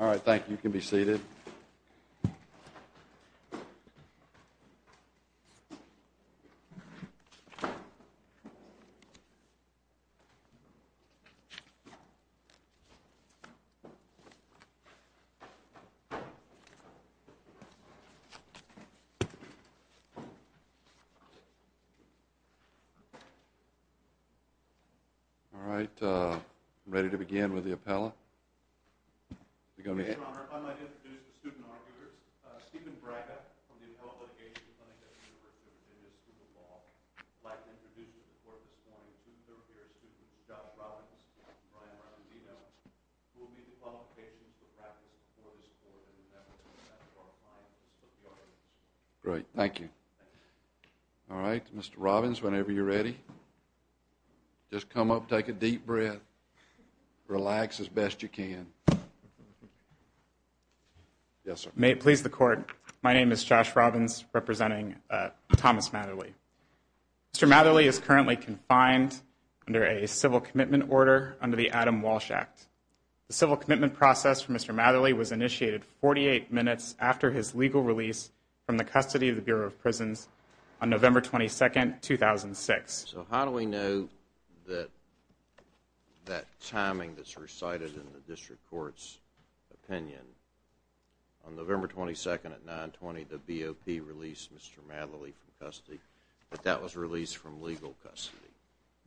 All right, thank you, you can be seated. All right, I'm ready to begin with the appellate. Your Honor, I'd like to introduce the student arguers. Stephen Braga, from the Appellate Litigation Clinic at the University of India School of Law, would like to introduce you to the court this morning. Two third-year students, Josh Robbins and Brian Ramadino, who will meet the qualifications for practice before this court, and then that will be left to our client, Mr. Piotrowski. Yes, you can. Yes, sir. May it please the Court, my name is Josh Robbins, representing Thomas Matherly. Mr. Matherly is currently confined under a civil commitment order under the Adam Walsh Act. The civil commitment process for Mr. Matherly was initiated 48 minutes after his legal release from the custody of the Bureau of Prisons on November 22, 2006. So how do we know that that timing that's recited in the district court's opinion? On November 22 at 9.20, the BOP released Mr. Matherly from custody, but that was released from legal custody.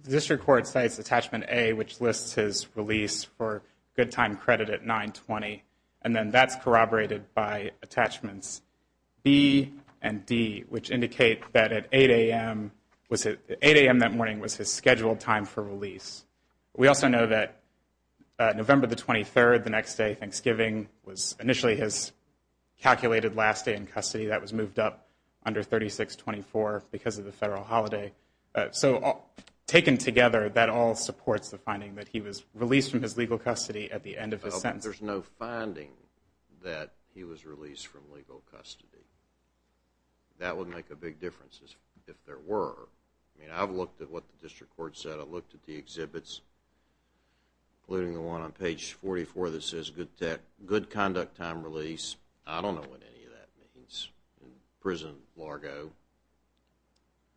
The district court cites Attachment A, which lists his release for good time credit at 9.20, and then that's corroborated by Attachments B and D, which indicate that at 8 a.m. that morning was his scheduled time for release. We also know that November 23, the next day, Thanksgiving, was initially his calculated last day in custody. That was moved up under 3624 because of the federal holiday. So taken together, that all supports the finding that he was released from his legal custody at the end of his sentence. There's no finding that he was released from legal custody. That would make a big difference if there were. I mean, I've looked at what the district court said. I've looked at the exhibits, including the one on page 44 that says good conduct time release. I don't know what any of that means. Prison, Largo.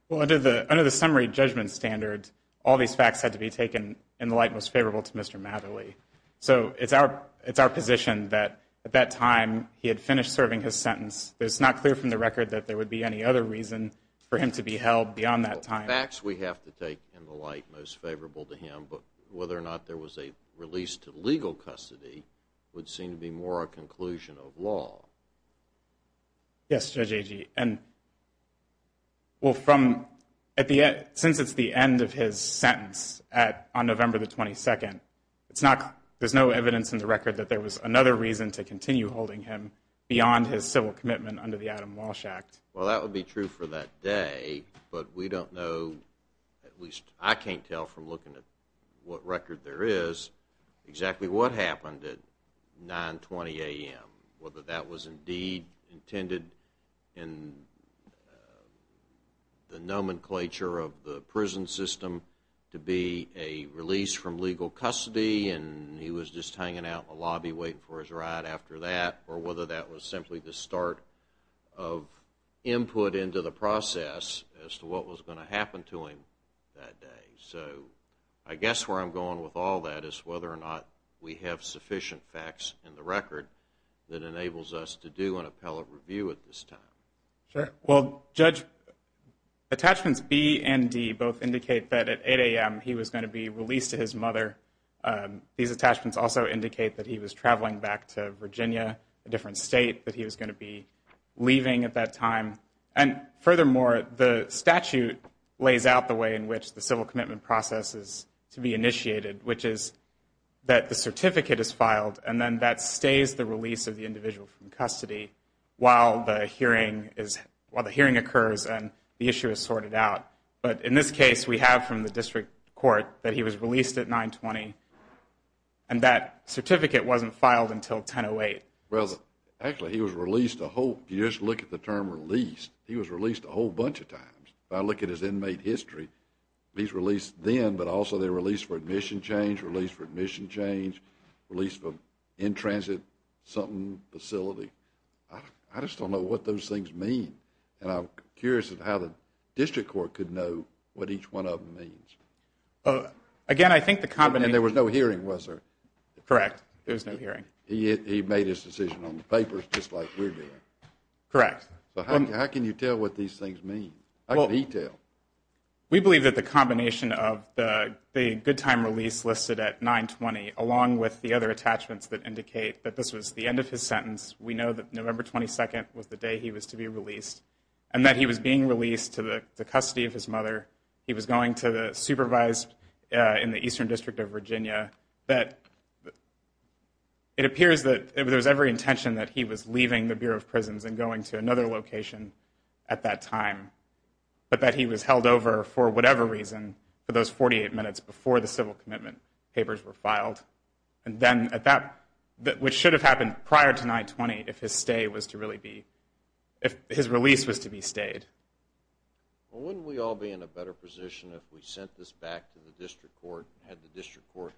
Well, under the summary judgment standard, all these facts had to be taken in the light most favorable to Mr. Matherly. So it's our position that at that time he had finished serving his sentence. It's not clear from the record that there would be any other reason for him to be held beyond that time. Facts we have to take in the light most favorable to him, but whether or not there was a release to legal custody would seem to be more a conclusion of law. Yes, Judge Agee. Well, since it's the end of his sentence on November 22, there's no evidence in the record that there was another reason to continue holding him beyond his civil commitment under the Adam Walsh Act. Well, that would be true for that day, but we don't know, at least I can't tell from looking at what record there is, exactly what happened at 920 a.m., whether that was indeed intended in the nomenclature of the prison system to be a release from legal custody and he was just hanging out in the lobby waiting for his ride after that, or whether that was simply the start of input into the process as to what was going to happen to him that day. So I guess where I'm going with all that is whether or not we have sufficient facts in the record that enables us to do an appellate review at this time. Sure. Well, Judge, attachments B and D both indicate that at 8 a.m. he was going to be released to his mother. These attachments also indicate that he was traveling back to Virginia, a different state, that he was going to be leaving at that time. And furthermore, the statute lays out the way in which the civil commitment process is to be initiated, which is that the certificate is filed and then that stays the release of the individual from custody while the hearing occurs and the issue is sorted out. But in this case, we have from the district court that he was released at 9.20 and that certificate wasn't filed until 10.08. Well, actually he was released a whole, if you just look at the term released, he was released a whole bunch of times. If I look at his inmate history, he was released then, but also they released for admission change, released for admission change, released for in-transit something facility. I just don't know what those things mean. And I'm curious as to how the district court could know what each one of them means. Again, I think the combination. And there was no hearing, was there? Correct. There was no hearing. He made his decision on the papers just like we're doing. Correct. How can you tell what these things mean? How can he tell? We believe that the combination of the good time release listed at 9.20 along with the other attachments that indicate that this was the end of his sentence, we know that November 22nd was the day he was to be released, and that he was being released to the custody of his mother. He was going to supervise in the Eastern District of Virginia. It appears that there was every intention that he was leaving the Bureau of Prisons and going to another location at that time, but that he was held over for whatever reason for those 48 minutes before the civil commitment papers were filed. Which should have happened prior to 9.20 if his release was to be stayed. Wouldn't we all be in a better position if we sent this back to the district court, had the district court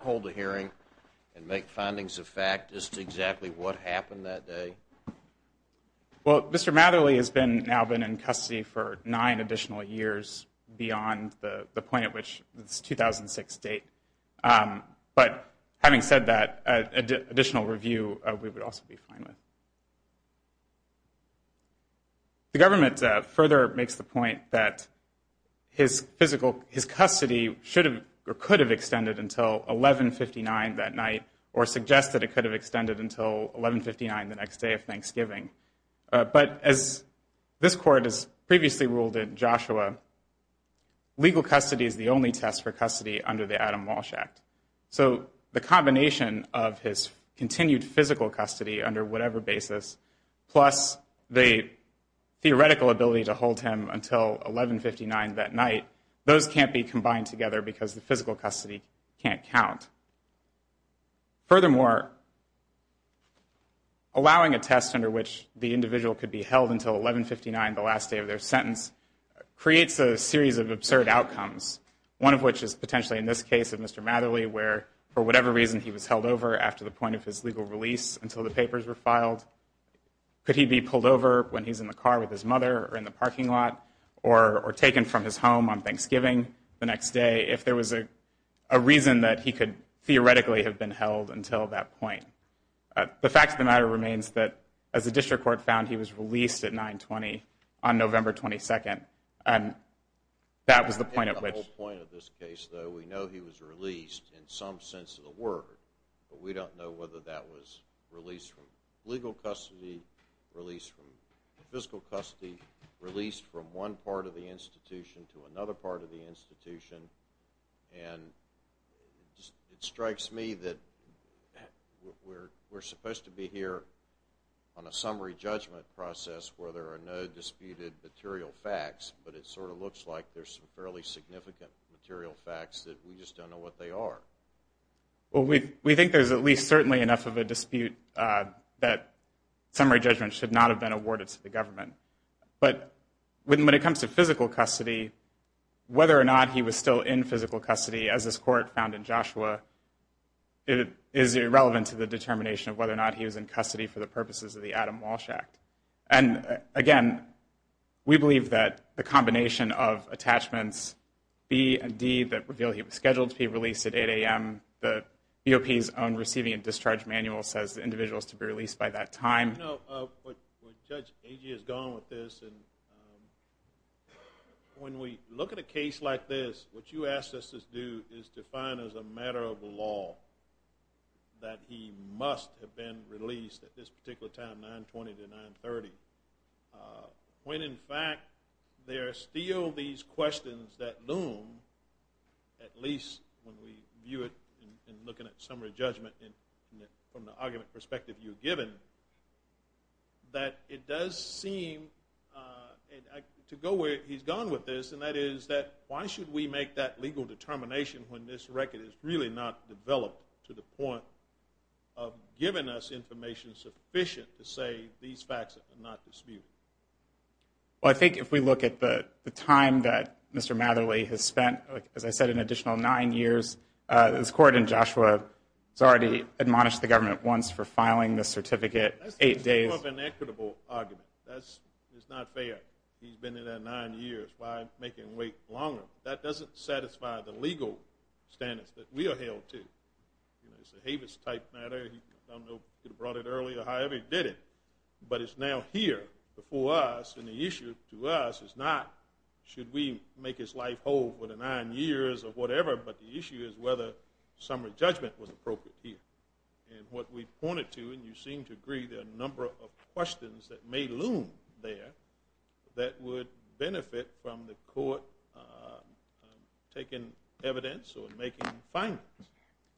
hold a hearing and make findings of fact as to exactly what happened that day? Mr. Matherly has now been in custody for nine additional years beyond the point at which this 2006 date. But having said that, additional review we would also be fine with. The government further makes the point that his custody could have extended until 11.59 that night, or suggests that it could have extended until 11.59 the next day of Thanksgiving. But as this court has previously ruled in Joshua, legal custody is the only test for custody under the Adam Walsh Act. So the combination of his continued physical custody under whatever basis, plus the theoretical ability to hold him until 11.59 that night, those can't be combined together because the physical custody can't count. Furthermore, allowing a test under which the individual could be held until 11.59, the last day of their sentence, creates a series of absurd outcomes. One of which is potentially in this case of Mr. Matherly, where for whatever reason he was held over after the point of his legal release until the papers were filed. Could he be pulled over when he's in the car with his mother or in the parking lot, or taken from his home on Thanksgiving the next day, if there was a reason that he could theoretically have been held until that point? The fact of the matter remains that, as the district court found, he was released at 9.20 on November 22nd. And that was the point at which... In the whole point of this case, though, we know he was released in some sense of the word. But we don't know whether that was release from legal custody, release from physical custody, release from one part of the institution to another part of the institution. And it strikes me that we're supposed to be here on a summary judgment process where there are no disputed material facts, but it sort of looks like there's some fairly significant material facts that we just don't know what they are. Well, we think there's at least certainly enough of a dispute that summary judgment should not have been awarded to the government. But when it comes to physical custody, whether or not he was still in physical custody, as this court found in Joshua, is irrelevant to the determination of whether or not he was in custody for the purposes of the Adam Walsh Act. And again, we believe that the combination of attachments B and D that reveal he was scheduled to be released at 8 a.m., the BOP's own receiving and discharge manual says the individual is to be released by that time. You know, Judge, A.G. has gone with this. When we look at a case like this, what you asked us to do is define as a matter of law that he must have been released at this particular time, 920 to 930, when in fact there are still these questions that loom, at least when we view it in looking at summary judgment from the argument perspective you've given, that it does seem to go where he's gone with this, and that is that why should we make that legal determination when this record is really not developed to the point of giving us information sufficient to say these facts are not disputed? Well, I think if we look at the time that Mr. Matherly has spent, as I said, an additional nine years, this Court in Joshua has already admonished the government once for filing the certificate eight days. That's an equitable argument. It's not fair. He's been in there nine years. Why make him wait longer? That doesn't satisfy the legal standards that we are held to. It's a Havis-type matter. I don't know if he would have brought it earlier. However, he did it. But it's now here before us, and the issue to us is not should we make his life hold for the nine years or whatever, but the issue is whether summary judgment was appropriate here. And what we pointed to, and you seem to agree, there are a number of questions that may loom there that would benefit from the Court taking evidence or making findings.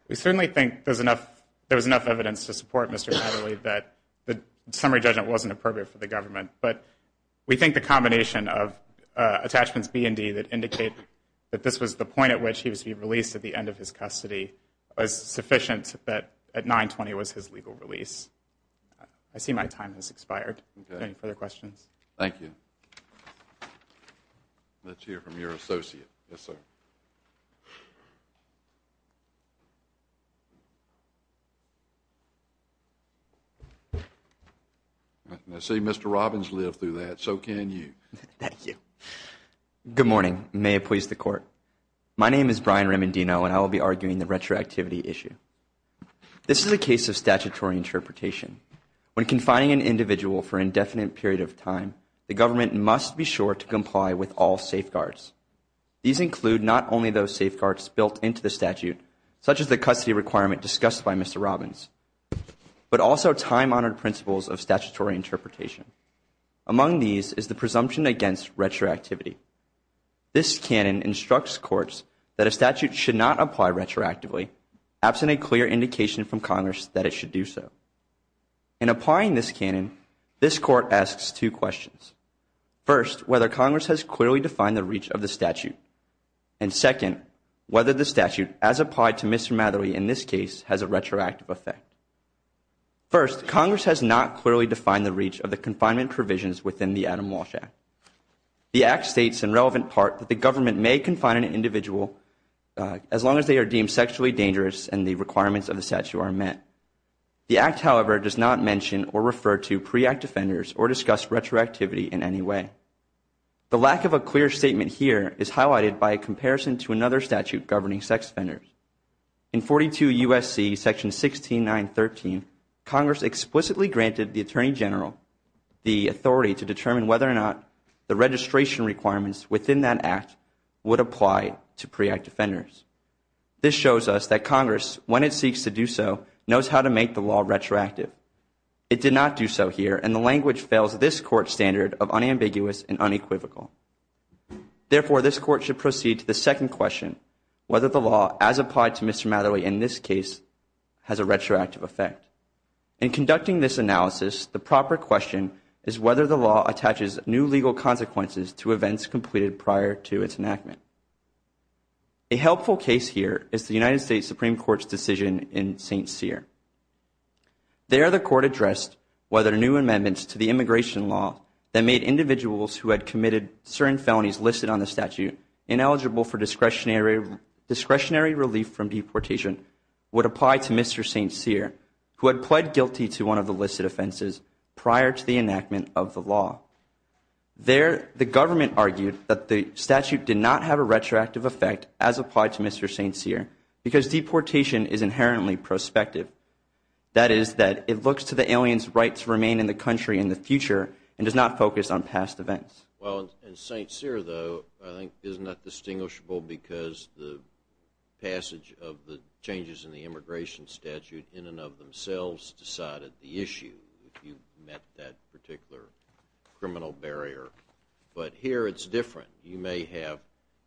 We certainly think there was enough evidence to support Mr. Matherly that the summary judgment wasn't appropriate for the government. But we think the combination of attachments B and D that indicate that this was the point at which he was to be released at the end of his custody was sufficient that at 9-20 was his legal release. I see my time has expired. Any further questions? Thank you. Let's hear from your associate. Yes, sir. I see Mr. Robbins lived through that. So can you. Thank you. Good morning. May it please the Court. My name is Brian Remendino, and I will be arguing the retroactivity issue. This is a case of statutory interpretation. When confining an individual for an indefinite period of time, the government must be sure to comply with all safeguards. These include not only those safeguards built into the statute, such as the custody requirement discussed by Mr. Robbins, but also time-honored principles of statutory interpretation. Among these is the presumption against retroactivity. This canon instructs courts that a statute should not apply retroactively absent a clear indication from Congress that it should do so. In applying this canon, this court asks two questions. First, whether Congress has clearly defined the reach of the statute. And second, whether the statute, as applied to Mr. Mathery in this case, has a retroactive effect. First, Congress has not clearly defined the reach of the confinement provisions within the Adam Walsh Act. The Act states in relevant part that the government may confine an individual as long as they are deemed sexually dangerous and the requirements of the statute are met. The Act, however, does not mention or refer to pre-Act offenders or discuss retroactivity in any way. The lack of a clear statement here is highlighted by a comparison to another statute governing sex offenders. In 42 U.S.C. section 16913, Congress explicitly granted the Attorney General the authority to determine whether or not the registration requirements within that Act would apply to pre-Act offenders. This shows us that Congress, when it seeks to do so, knows how to make the law retroactive. It did not do so here, and the language fails this Court's standard of unambiguous and unequivocal. Therefore, this Court should proceed to the second question, whether the law, as applied to Mr. Mathery in this case, has a retroactive effect. In conducting this analysis, the proper question is whether the law attaches new legal consequences to events completed prior to its enactment. A helpful case here is the United States Supreme Court's decision in St. Cyr. There, the Court addressed whether new amendments to the immigration law that made individuals who had committed certain felonies listed on the statute ineligible for discretionary relief from deportation would apply to Mr. St. Cyr, who had pled guilty to one of the listed offenses prior to the enactment of the law. There, the government argued that the statute did not have a retroactive effect as applied to Mr. St. Cyr because deportation is inherently prospective. That is that it looks to the alien's right to remain in the country in the future and does not focus on past events. Well, in St. Cyr, though, I think is not distinguishable because the passage of the changes in the immigration statute in and of themselves decided the issue, if you met that particular criminal barrier. But here, it's different. You may have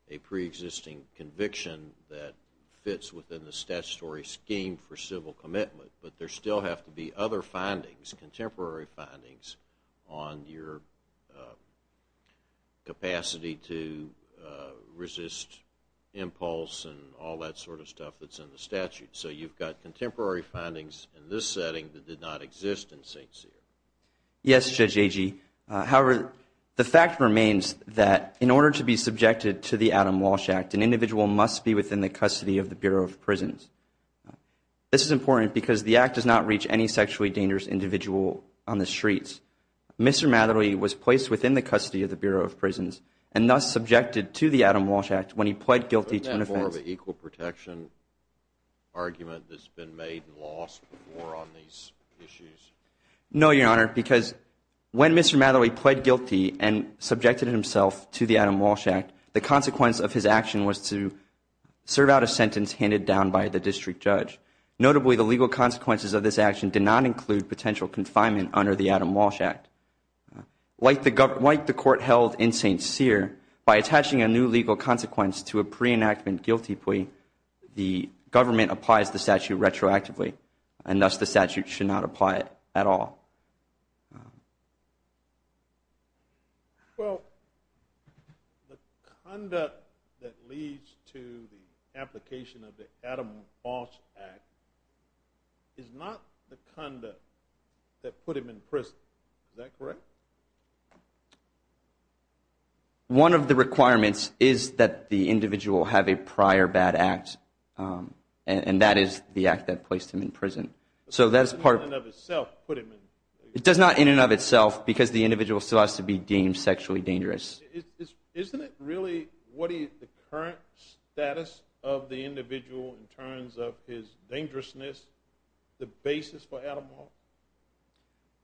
a preexisting conviction that fits within the statutory scheme for civil commitment, but there still have to be other findings, contemporary findings, on your capacity to resist impulse and all that sort of stuff that's in the statute. So you've got contemporary findings in this setting that did not exist in St. Cyr. Yes, Judge Agee. However, the fact remains that in order to be subjected to the Adam Walsh Act, an individual must be within the custody of the Bureau of Prisons. This is important because the Act does not reach any sexually dangerous individual on the streets. Mr. Matherly was placed within the custody of the Bureau of Prisons and thus subjected to the Adam Walsh Act when he pled guilty to an offense. Do you have a more of an equal protection argument that's been made and lost before on these issues? No, Your Honor, because when Mr. Matherly pled guilty and subjected himself to the Adam Walsh Act, the consequence of his action was to serve out a sentence handed down by the district judge. Notably, the legal consequences of this action did not include potential confinement under the Adam Walsh Act. Like the court held in St. Cyr, by attaching a new legal consequence to a pre-enactment guilty plea, the government applies the statute retroactively and thus the statute should not apply at all. Well, the conduct that leads to the application of the Adam Walsh Act is not the conduct that put him in prison. Is that correct? Correct. One of the requirements is that the individual have a prior bad act, and that is the act that placed him in prison. So that's part of it. It does not in and of itself because the individual still has to be deemed sexually dangerous. Isn't it really the current status of the individual in terms of his dangerousness the basis for Adam Walsh?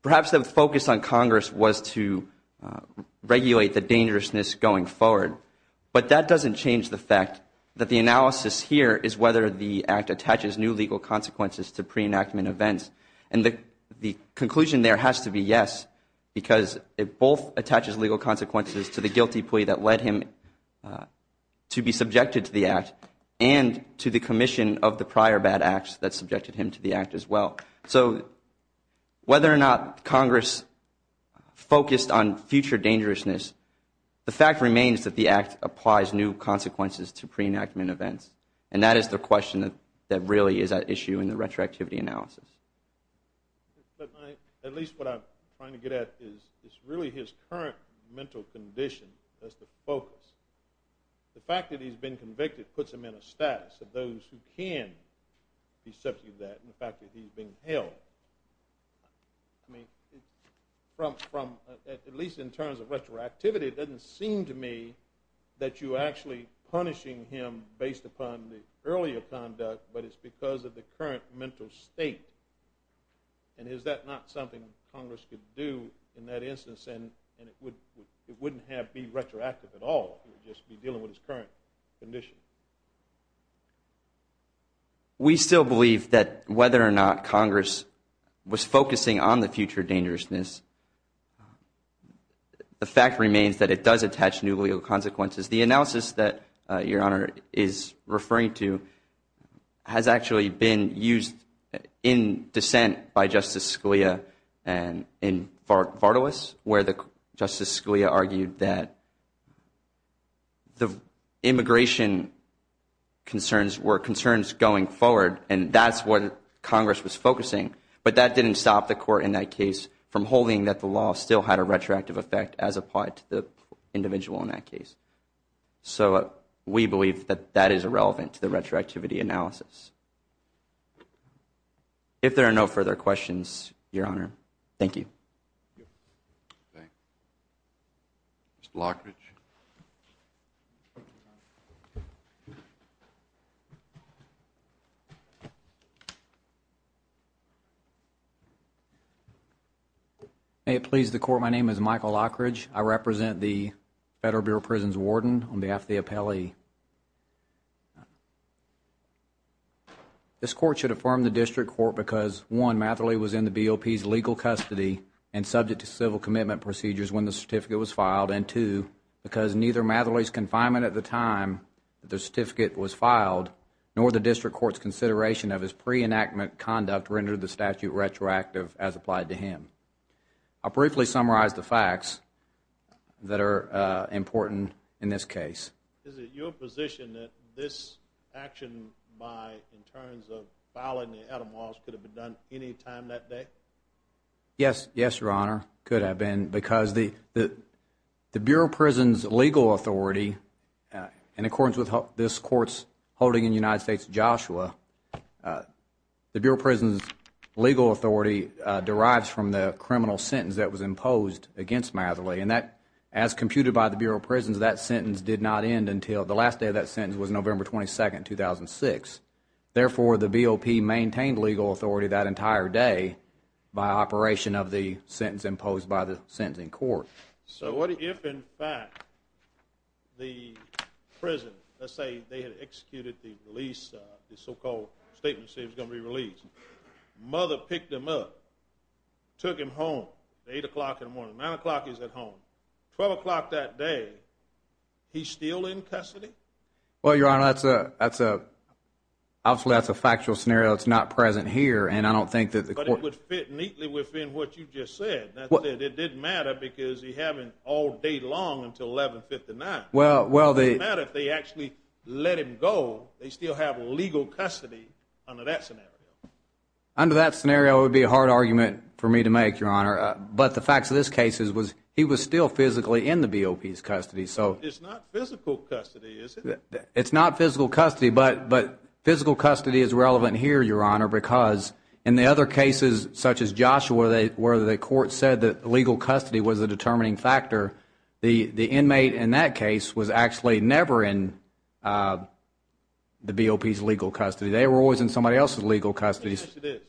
Perhaps the focus on Congress was to regulate the dangerousness going forward, but that doesn't change the fact that the analysis here is whether the act attaches new legal consequences to pre-enactment events. And the conclusion there has to be yes because it both attaches legal consequences to the guilty plea that led him to be subjected to the act and to the commission of the prior bad acts that subjected him to the act as well. So whether or not Congress focused on future dangerousness, the fact remains that the act applies new consequences to pre-enactment events, and that is the question that really is at issue in the retroactivity analysis. At least what I'm trying to get at is really his current mental condition. That's the focus. The fact that he's been convicted puts him in a status of those who can be subject to that and the fact that he's being held. I mean, at least in terms of retroactivity, it doesn't seem to me that you're actually punishing him based upon the earlier conduct, but it's because of the current mental state. And is that not something Congress could do in that instance and it wouldn't be retroactive at all? It would just be dealing with his current condition. We still believe that whether or not Congress was focusing on the future dangerousness, the fact remains that it does attach new legal consequences. The analysis that Your Honor is referring to has actually been used in dissent by Justice Scalia in Vardalos where Justice Scalia argued that the immigration concerns were concerns going forward and that's what Congress was focusing, but that didn't stop the court in that case from holding that the law still had a retroactive effect as applied to the individual in that case. So we believe that that is irrelevant to the retroactivity analysis. If there are no further questions, Your Honor, thank you. Thank you. Mr. Lockridge. May it please the Court, my name is Michael Lockridge. I represent the Federal Bureau of Prisons Warden on behalf of the appellee. This Court should affirm the District Court because, one, Matherly was in the BOP's legal custody and subject to civil commitment procedures when the certificate was filed and, two, because neither Matherly's confinement at the time that the certificate was filed nor the District Court's consideration of his pre-enactment conduct rendered the statute retroactive as applied to him. I'll briefly summarize the facts that are important in this case. Is it your position that this action by in terms of filing the etymology could have been done any time that day? Yes, Your Honor, it could have been because the Bureau of Prisons' legal authority, in accordance with this Court's holding in the United States of Joshua, the Bureau of Prisons' legal authority derives from the criminal sentence that was imposed against Matherly. And as computed by the Bureau of Prisons, that sentence did not end until the last day of that sentence was November 22, 2006. Therefore, the BOP maintained legal authority that entire day by operation of the sentence imposed by the sentencing court. So what if, in fact, the prison, let's say they had executed the release, the so-called statement that said he was going to be released, Matherly picked him up, took him home at 8 o'clock in the morning, 9 o'clock he's at home, 12 o'clock that day, he's still in custody? Well, Your Honor, that's a factual scenario that's not present here, and I don't think that the court— But it would fit neatly within what you just said. It didn't matter because he hadn't all day long until 1159. It didn't matter if they actually let him go. They still have legal custody under that scenario. Under that scenario, it would be a hard argument for me to make, Your Honor, but the facts of this case is he was still physically in the BOP's custody. So it's not physical custody, is it? It's not physical custody, but physical custody is relevant here, Your Honor, because in the other cases such as Joshua where the court said that legal custody was a determining factor, the inmate in that case was actually never in the BOP's legal custody. They were always in somebody else's legal custody. Yes, it is.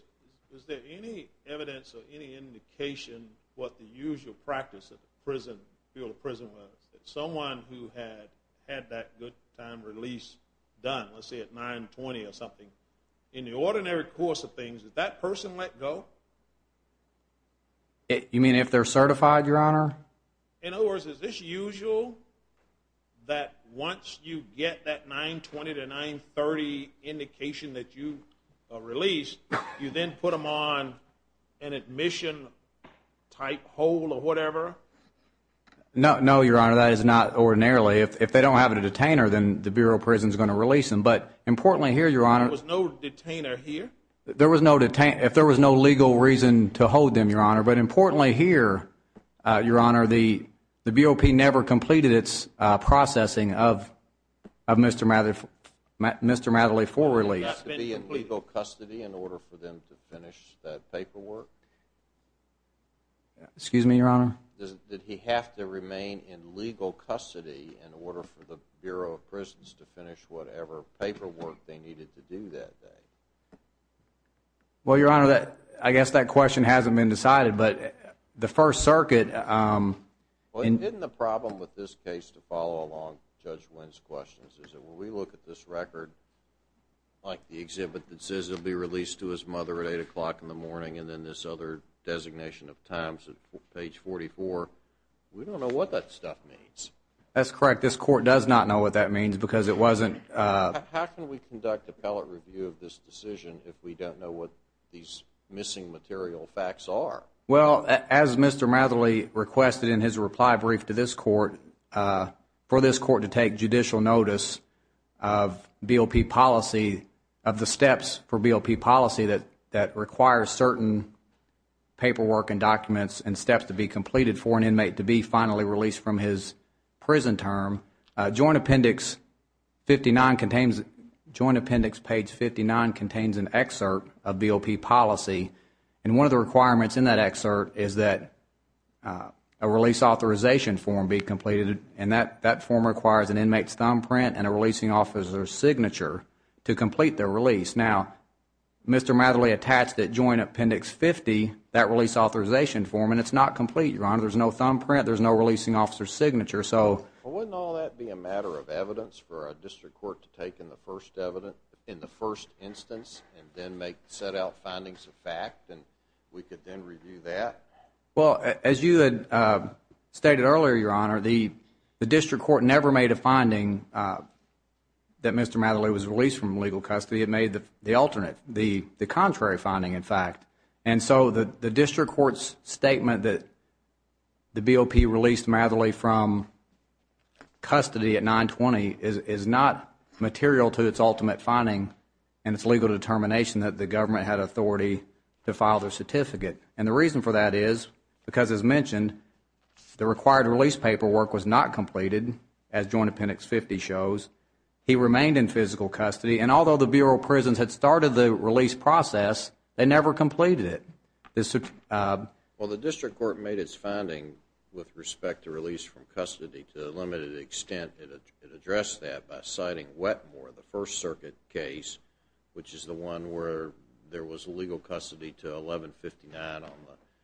Was there any evidence or any indication what the usual practice of the prison, field of prison was, that someone who had had that good time release done, let's say at 920 or something, in the ordinary course of things, did that person let go? You mean if they're certified, Your Honor? In other words, is this usual, that once you get that 920 to 930 indication that you released, you then put them on an admission-type hold or whatever? No, Your Honor, that is not ordinarily. If they don't have a detainer, then the Bureau of Prison is going to release them. But importantly here, Your Honor, There was no detainer here? There was no detainer. If there was no legal reason to hold them, Your Honor, but importantly here, Your Honor, the BOP never completed its processing of Mr. Matherly for release. Did he have to be in legal custody in order for them to finish that paperwork? Excuse me, Your Honor? Did he have to remain in legal custody in order for the Bureau of Prisons to finish whatever paperwork they needed to do that day? Well, Your Honor, I guess that question hasn't been decided, but the First Circuit Well, isn't the problem with this case, to follow along Judge Wynn's questions, is that when we look at this record, like the exhibit that says he'll be released to his mother at 8 o'clock in the morning, and then this other designation of times at page 44, we don't know what that stuff means. That's correct. This Court does not know what that means because it wasn't How can we conduct appellate review of this decision if we don't know what these missing material facts are? Well, as Mr. Matherly requested in his reply brief to this Court, for this Court to take judicial notice of BOP policy, of the steps for BOP policy that require certain paperwork and documents and steps to be completed for an inmate to be finally released from his prison term, Joint Appendix 59 contains, Joint Appendix page 59 contains an excerpt of BOP policy, and one of the requirements in that excerpt is that a release authorization form be completed, and that form requires an inmate's thumbprint and a releasing officer's signature to complete their release. Now, Mr. Matherly attached at Joint Appendix 50 that release authorization form, and it's not complete, Your Honor. There's no thumbprint. There's no releasing officer's signature. Well, wouldn't all that be a matter of evidence for a district court to take in the first instance and then set out findings of fact, and we could then review that? Well, as you had stated earlier, Your Honor, the district court never made a finding that Mr. Matherly was released from legal custody. And so the district court's statement that the BOP released Matherly from custody at 920 is not material to its ultimate finding and its legal determination that the government had authority to file their certificate, and the reason for that is because, as mentioned, the required release paperwork was not completed, as Joint Appendix 50 shows. He remained in physical custody, and although the Bureau of Prisons had started the release process, they never completed it. Well, the district court made its finding with respect to release from custody to a limited extent. It addressed that by citing Wetmore, the First Circuit case, which is the one where there was legal custody to 1159 on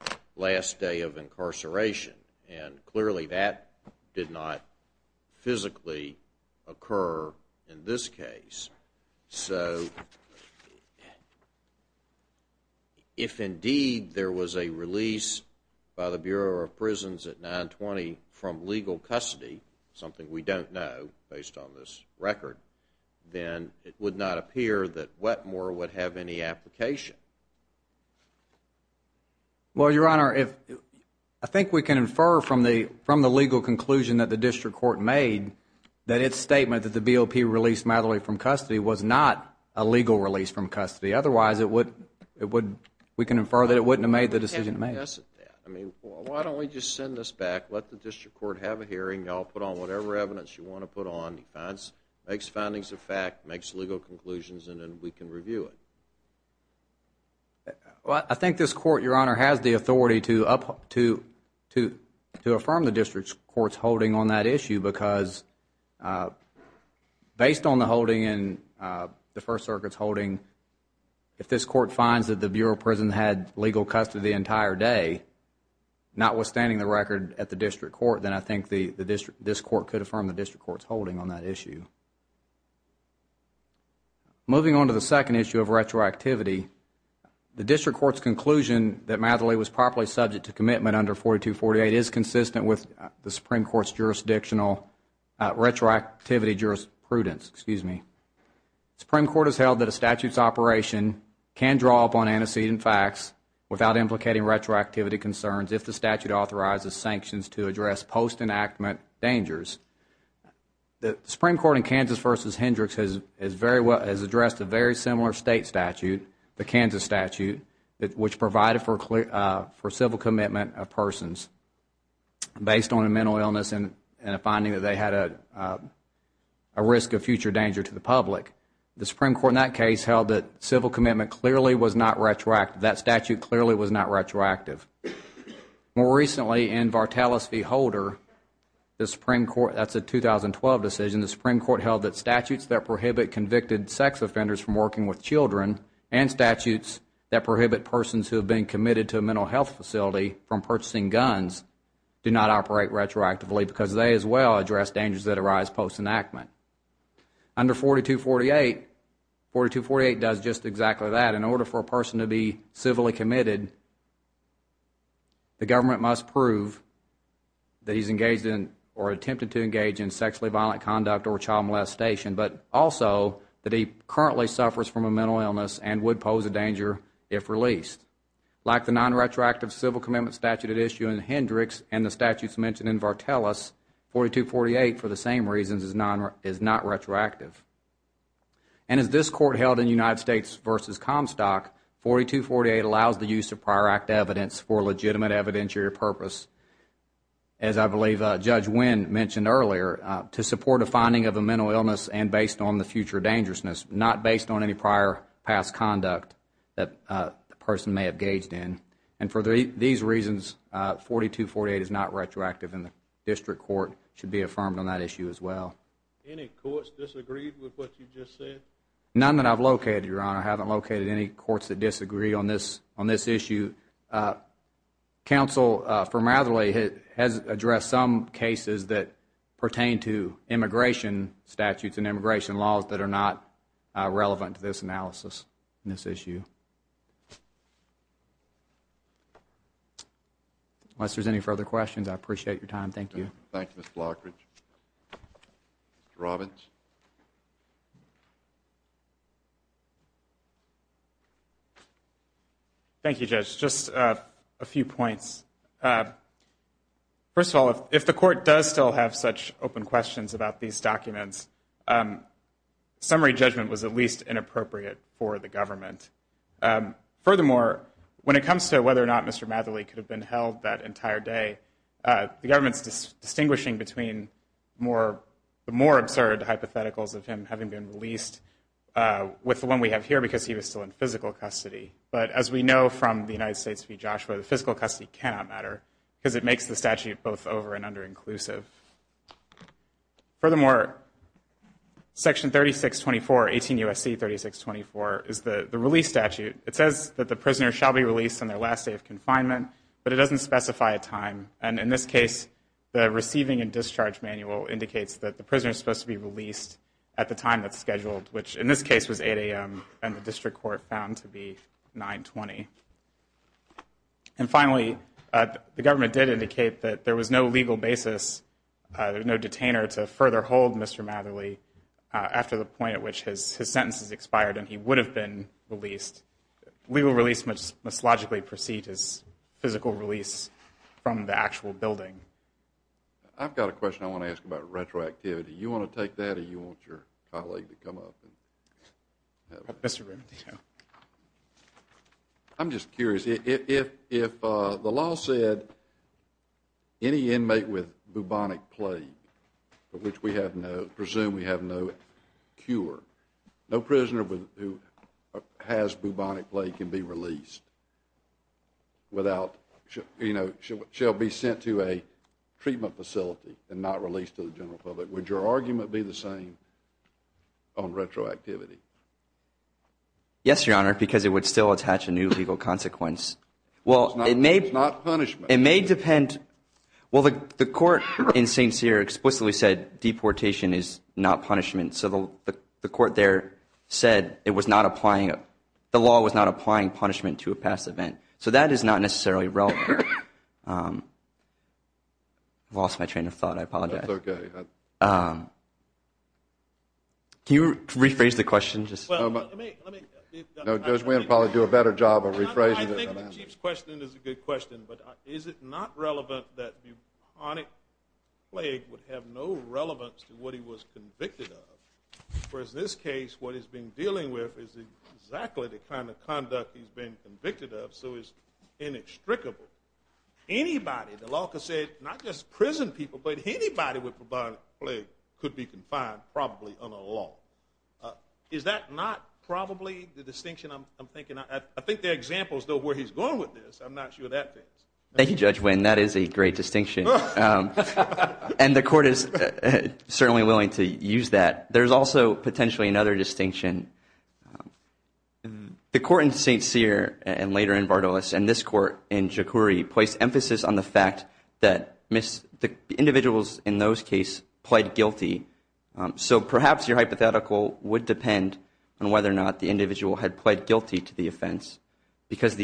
the last day of incarceration, and clearly that did not physically occur in this case. So if indeed there was a release by the Bureau of Prisons at 920 from legal custody, something we don't know based on this record, then it would not appear that Wetmore would have any application. Well, Your Honor, I think we can infer from the legal conclusion that the district court made that its statement that the BOP released Matherly from custody was not a legal release from custody. Otherwise, we can infer that it wouldn't have made the decision it made. I mean, why don't we just send this back, let the district court have a hearing, you all put on whatever evidence you want to put on, it makes findings of fact, makes legal conclusions, and then we can review it. I think this court, Your Honor, has the authority to affirm the district court's holding on that issue because based on the holding and the First Circuit's holding, if this court finds that the Bureau of Prisons had legal custody the entire day, notwithstanding the record at the district court, then I think this court could affirm the district court's holding on that issue. Moving on to the second issue of retroactivity, the district court's conclusion that Matherly was properly subject to commitment under 4248 is consistent with the Supreme Court's retroactivity jurisprudence. The Supreme Court has held that a statute's operation can draw upon antecedent facts without implicating retroactivity concerns if the statute authorizes sanctions to address post-enactment dangers. The Supreme Court in Kansas v. Hendricks has addressed a very similar state statute, the Kansas statute, which provided for civil commitment of persons based on a mental illness and a finding that they had a risk of future danger to the public. The Supreme Court in that case held that civil commitment clearly was not retroactive. That statute clearly was not retroactive. More recently, in Vartalis v. Holder, that's a 2012 decision, the Supreme Court held that statutes that prohibit convicted sex offenders from working with children and statutes that prohibit persons who have been committed to a mental health facility from purchasing guns do not operate retroactively because they as well address dangers that arise post-enactment. Under 4248, 4248 does just exactly that. In order for a person to be civilly committed, the government must prove that he's engaged in or attempted to engage in sexually violent conduct or child molestation but also that he currently suffers from a mental illness and would pose a danger if released. Like the non-retroactive civil commitment statute at issue in Hendricks and the statutes mentioned in Vartalis, 4248, for the same reasons, is not retroactive. And as this Court held in United States v. Comstock, 4248 allows the use of prior act evidence for legitimate evidentiary purpose, as I believe Judge Winn mentioned earlier, to support a finding of a mental illness and based on the future dangerousness, not based on any prior past conduct that the person may have engaged in. And for these reasons, 4248 is not retroactive, and the District Court should be affirmed on that issue as well. Any courts disagreed with what you just said? None that I've located, Your Honor. I haven't located any courts that disagree on this issue. Counsel for Matherly has addressed some cases that pertain to immigration statutes and immigration laws that are not relevant to this analysis, this issue. Unless there's any further questions, I appreciate your time. Thank you. Thank you, Mr. Lockridge. Mr. Robbins? Thank you, Judge. Thank you, Judge. Just a few points. First of all, if the Court does still have such open questions about these documents, summary judgment was at least inappropriate for the government. Furthermore, when it comes to whether or not Mr. Matherly could have been held that entire day, the government's distinguishing between the more absurd hypotheticals of him having been released with the one we have here because he was still in physical custody. But as we know from the United States v. Joshua, the physical custody cannot matter because it makes the statute both over- and under-inclusive. Furthermore, Section 3624, 18 U.S.C. 3624, is the release statute. It says that the prisoner shall be released on their last day of confinement, but it doesn't specify a time. And in this case, the receiving and discharge manual indicates that the prisoner is supposed to be released at the time that's scheduled, which in this case was 8 a.m. and the district court found to be 9.20. And finally, the government did indicate that there was no legal basis, no detainer to further hold Mr. Matherly after the point at which his sentence has expired and he would have been released. Legal release must logically precede his physical release from the actual building. I've got a question I want to ask about retroactivity. Do you want to take that or do you want your colleague to come up? Mr. Ramadino. I'm just curious. If the law said any inmate with bubonic plague, which we presume we have no cure, no prisoner who has bubonic plague can be released without, you know, shall be sent to a treatment facility and not released to the general public, would your argument be the same on retroactivity? Yes, Your Honor, because it would still attach a new legal consequence. It's not punishment. It may depend. Well, the court in St. Cyr explicitly said deportation is not punishment, so the court there said the law was not applying punishment to a past event. So that is not necessarily relevant. I lost my train of thought. I apologize. That's okay. Can you rephrase the question? Judge Wynn will probably do a better job of rephrasing it. I think the Chief's question is a good question, but is it not relevant that bubonic plague would have no relevance to what he was convicted of? For in this case, what he's been dealing with is exactly the kind of conduct he's been convicted of, so it's inextricable. Anybody, the law could say, not just prison people, but anybody with bubonic plague could be confined probably under the law. Is that not probably the distinction I'm thinking? I think there are examples, though, of where he's going with this. I'm not sure that fits. Thank you, Judge Wynn. That is a great distinction. And the court is certainly willing to use that. There's also potentially another distinction. The court in St. Cyr and later in Bartolus and this court in Jokuri placed emphasis on the fact that the individuals in those cases pled guilty. So perhaps your hypothetical would depend on whether or not the individual had pled guilty to the offense, because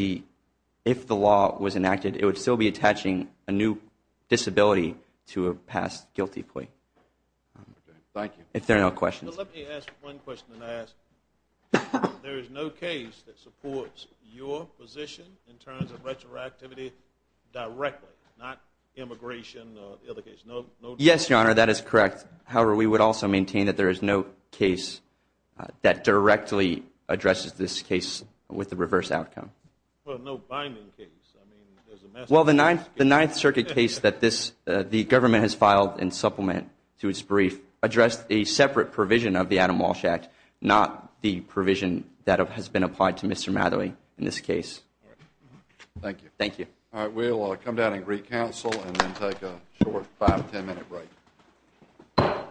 if the law was enacted, it would still be attaching a new disability to a past guilty plea. Thank you. If there are no questions. Let me ask one question and ask, there is no case that supports your position in terms of retroactivity directly, not immigration or the other case? Yes, Your Honor, that is correct. However, we would also maintain that there is no case that directly addresses this case with the reverse outcome. Well, no binding case. Well, the Ninth Circuit case that the government has filed in supplement to its brief addressed a separate provision of the Adam Walsh Act, not the provision that has been applied to Mr. Matherie in this case. Thank you. Thank you. All right. We'll come down and recouncil and then take a short 5-10 minute break.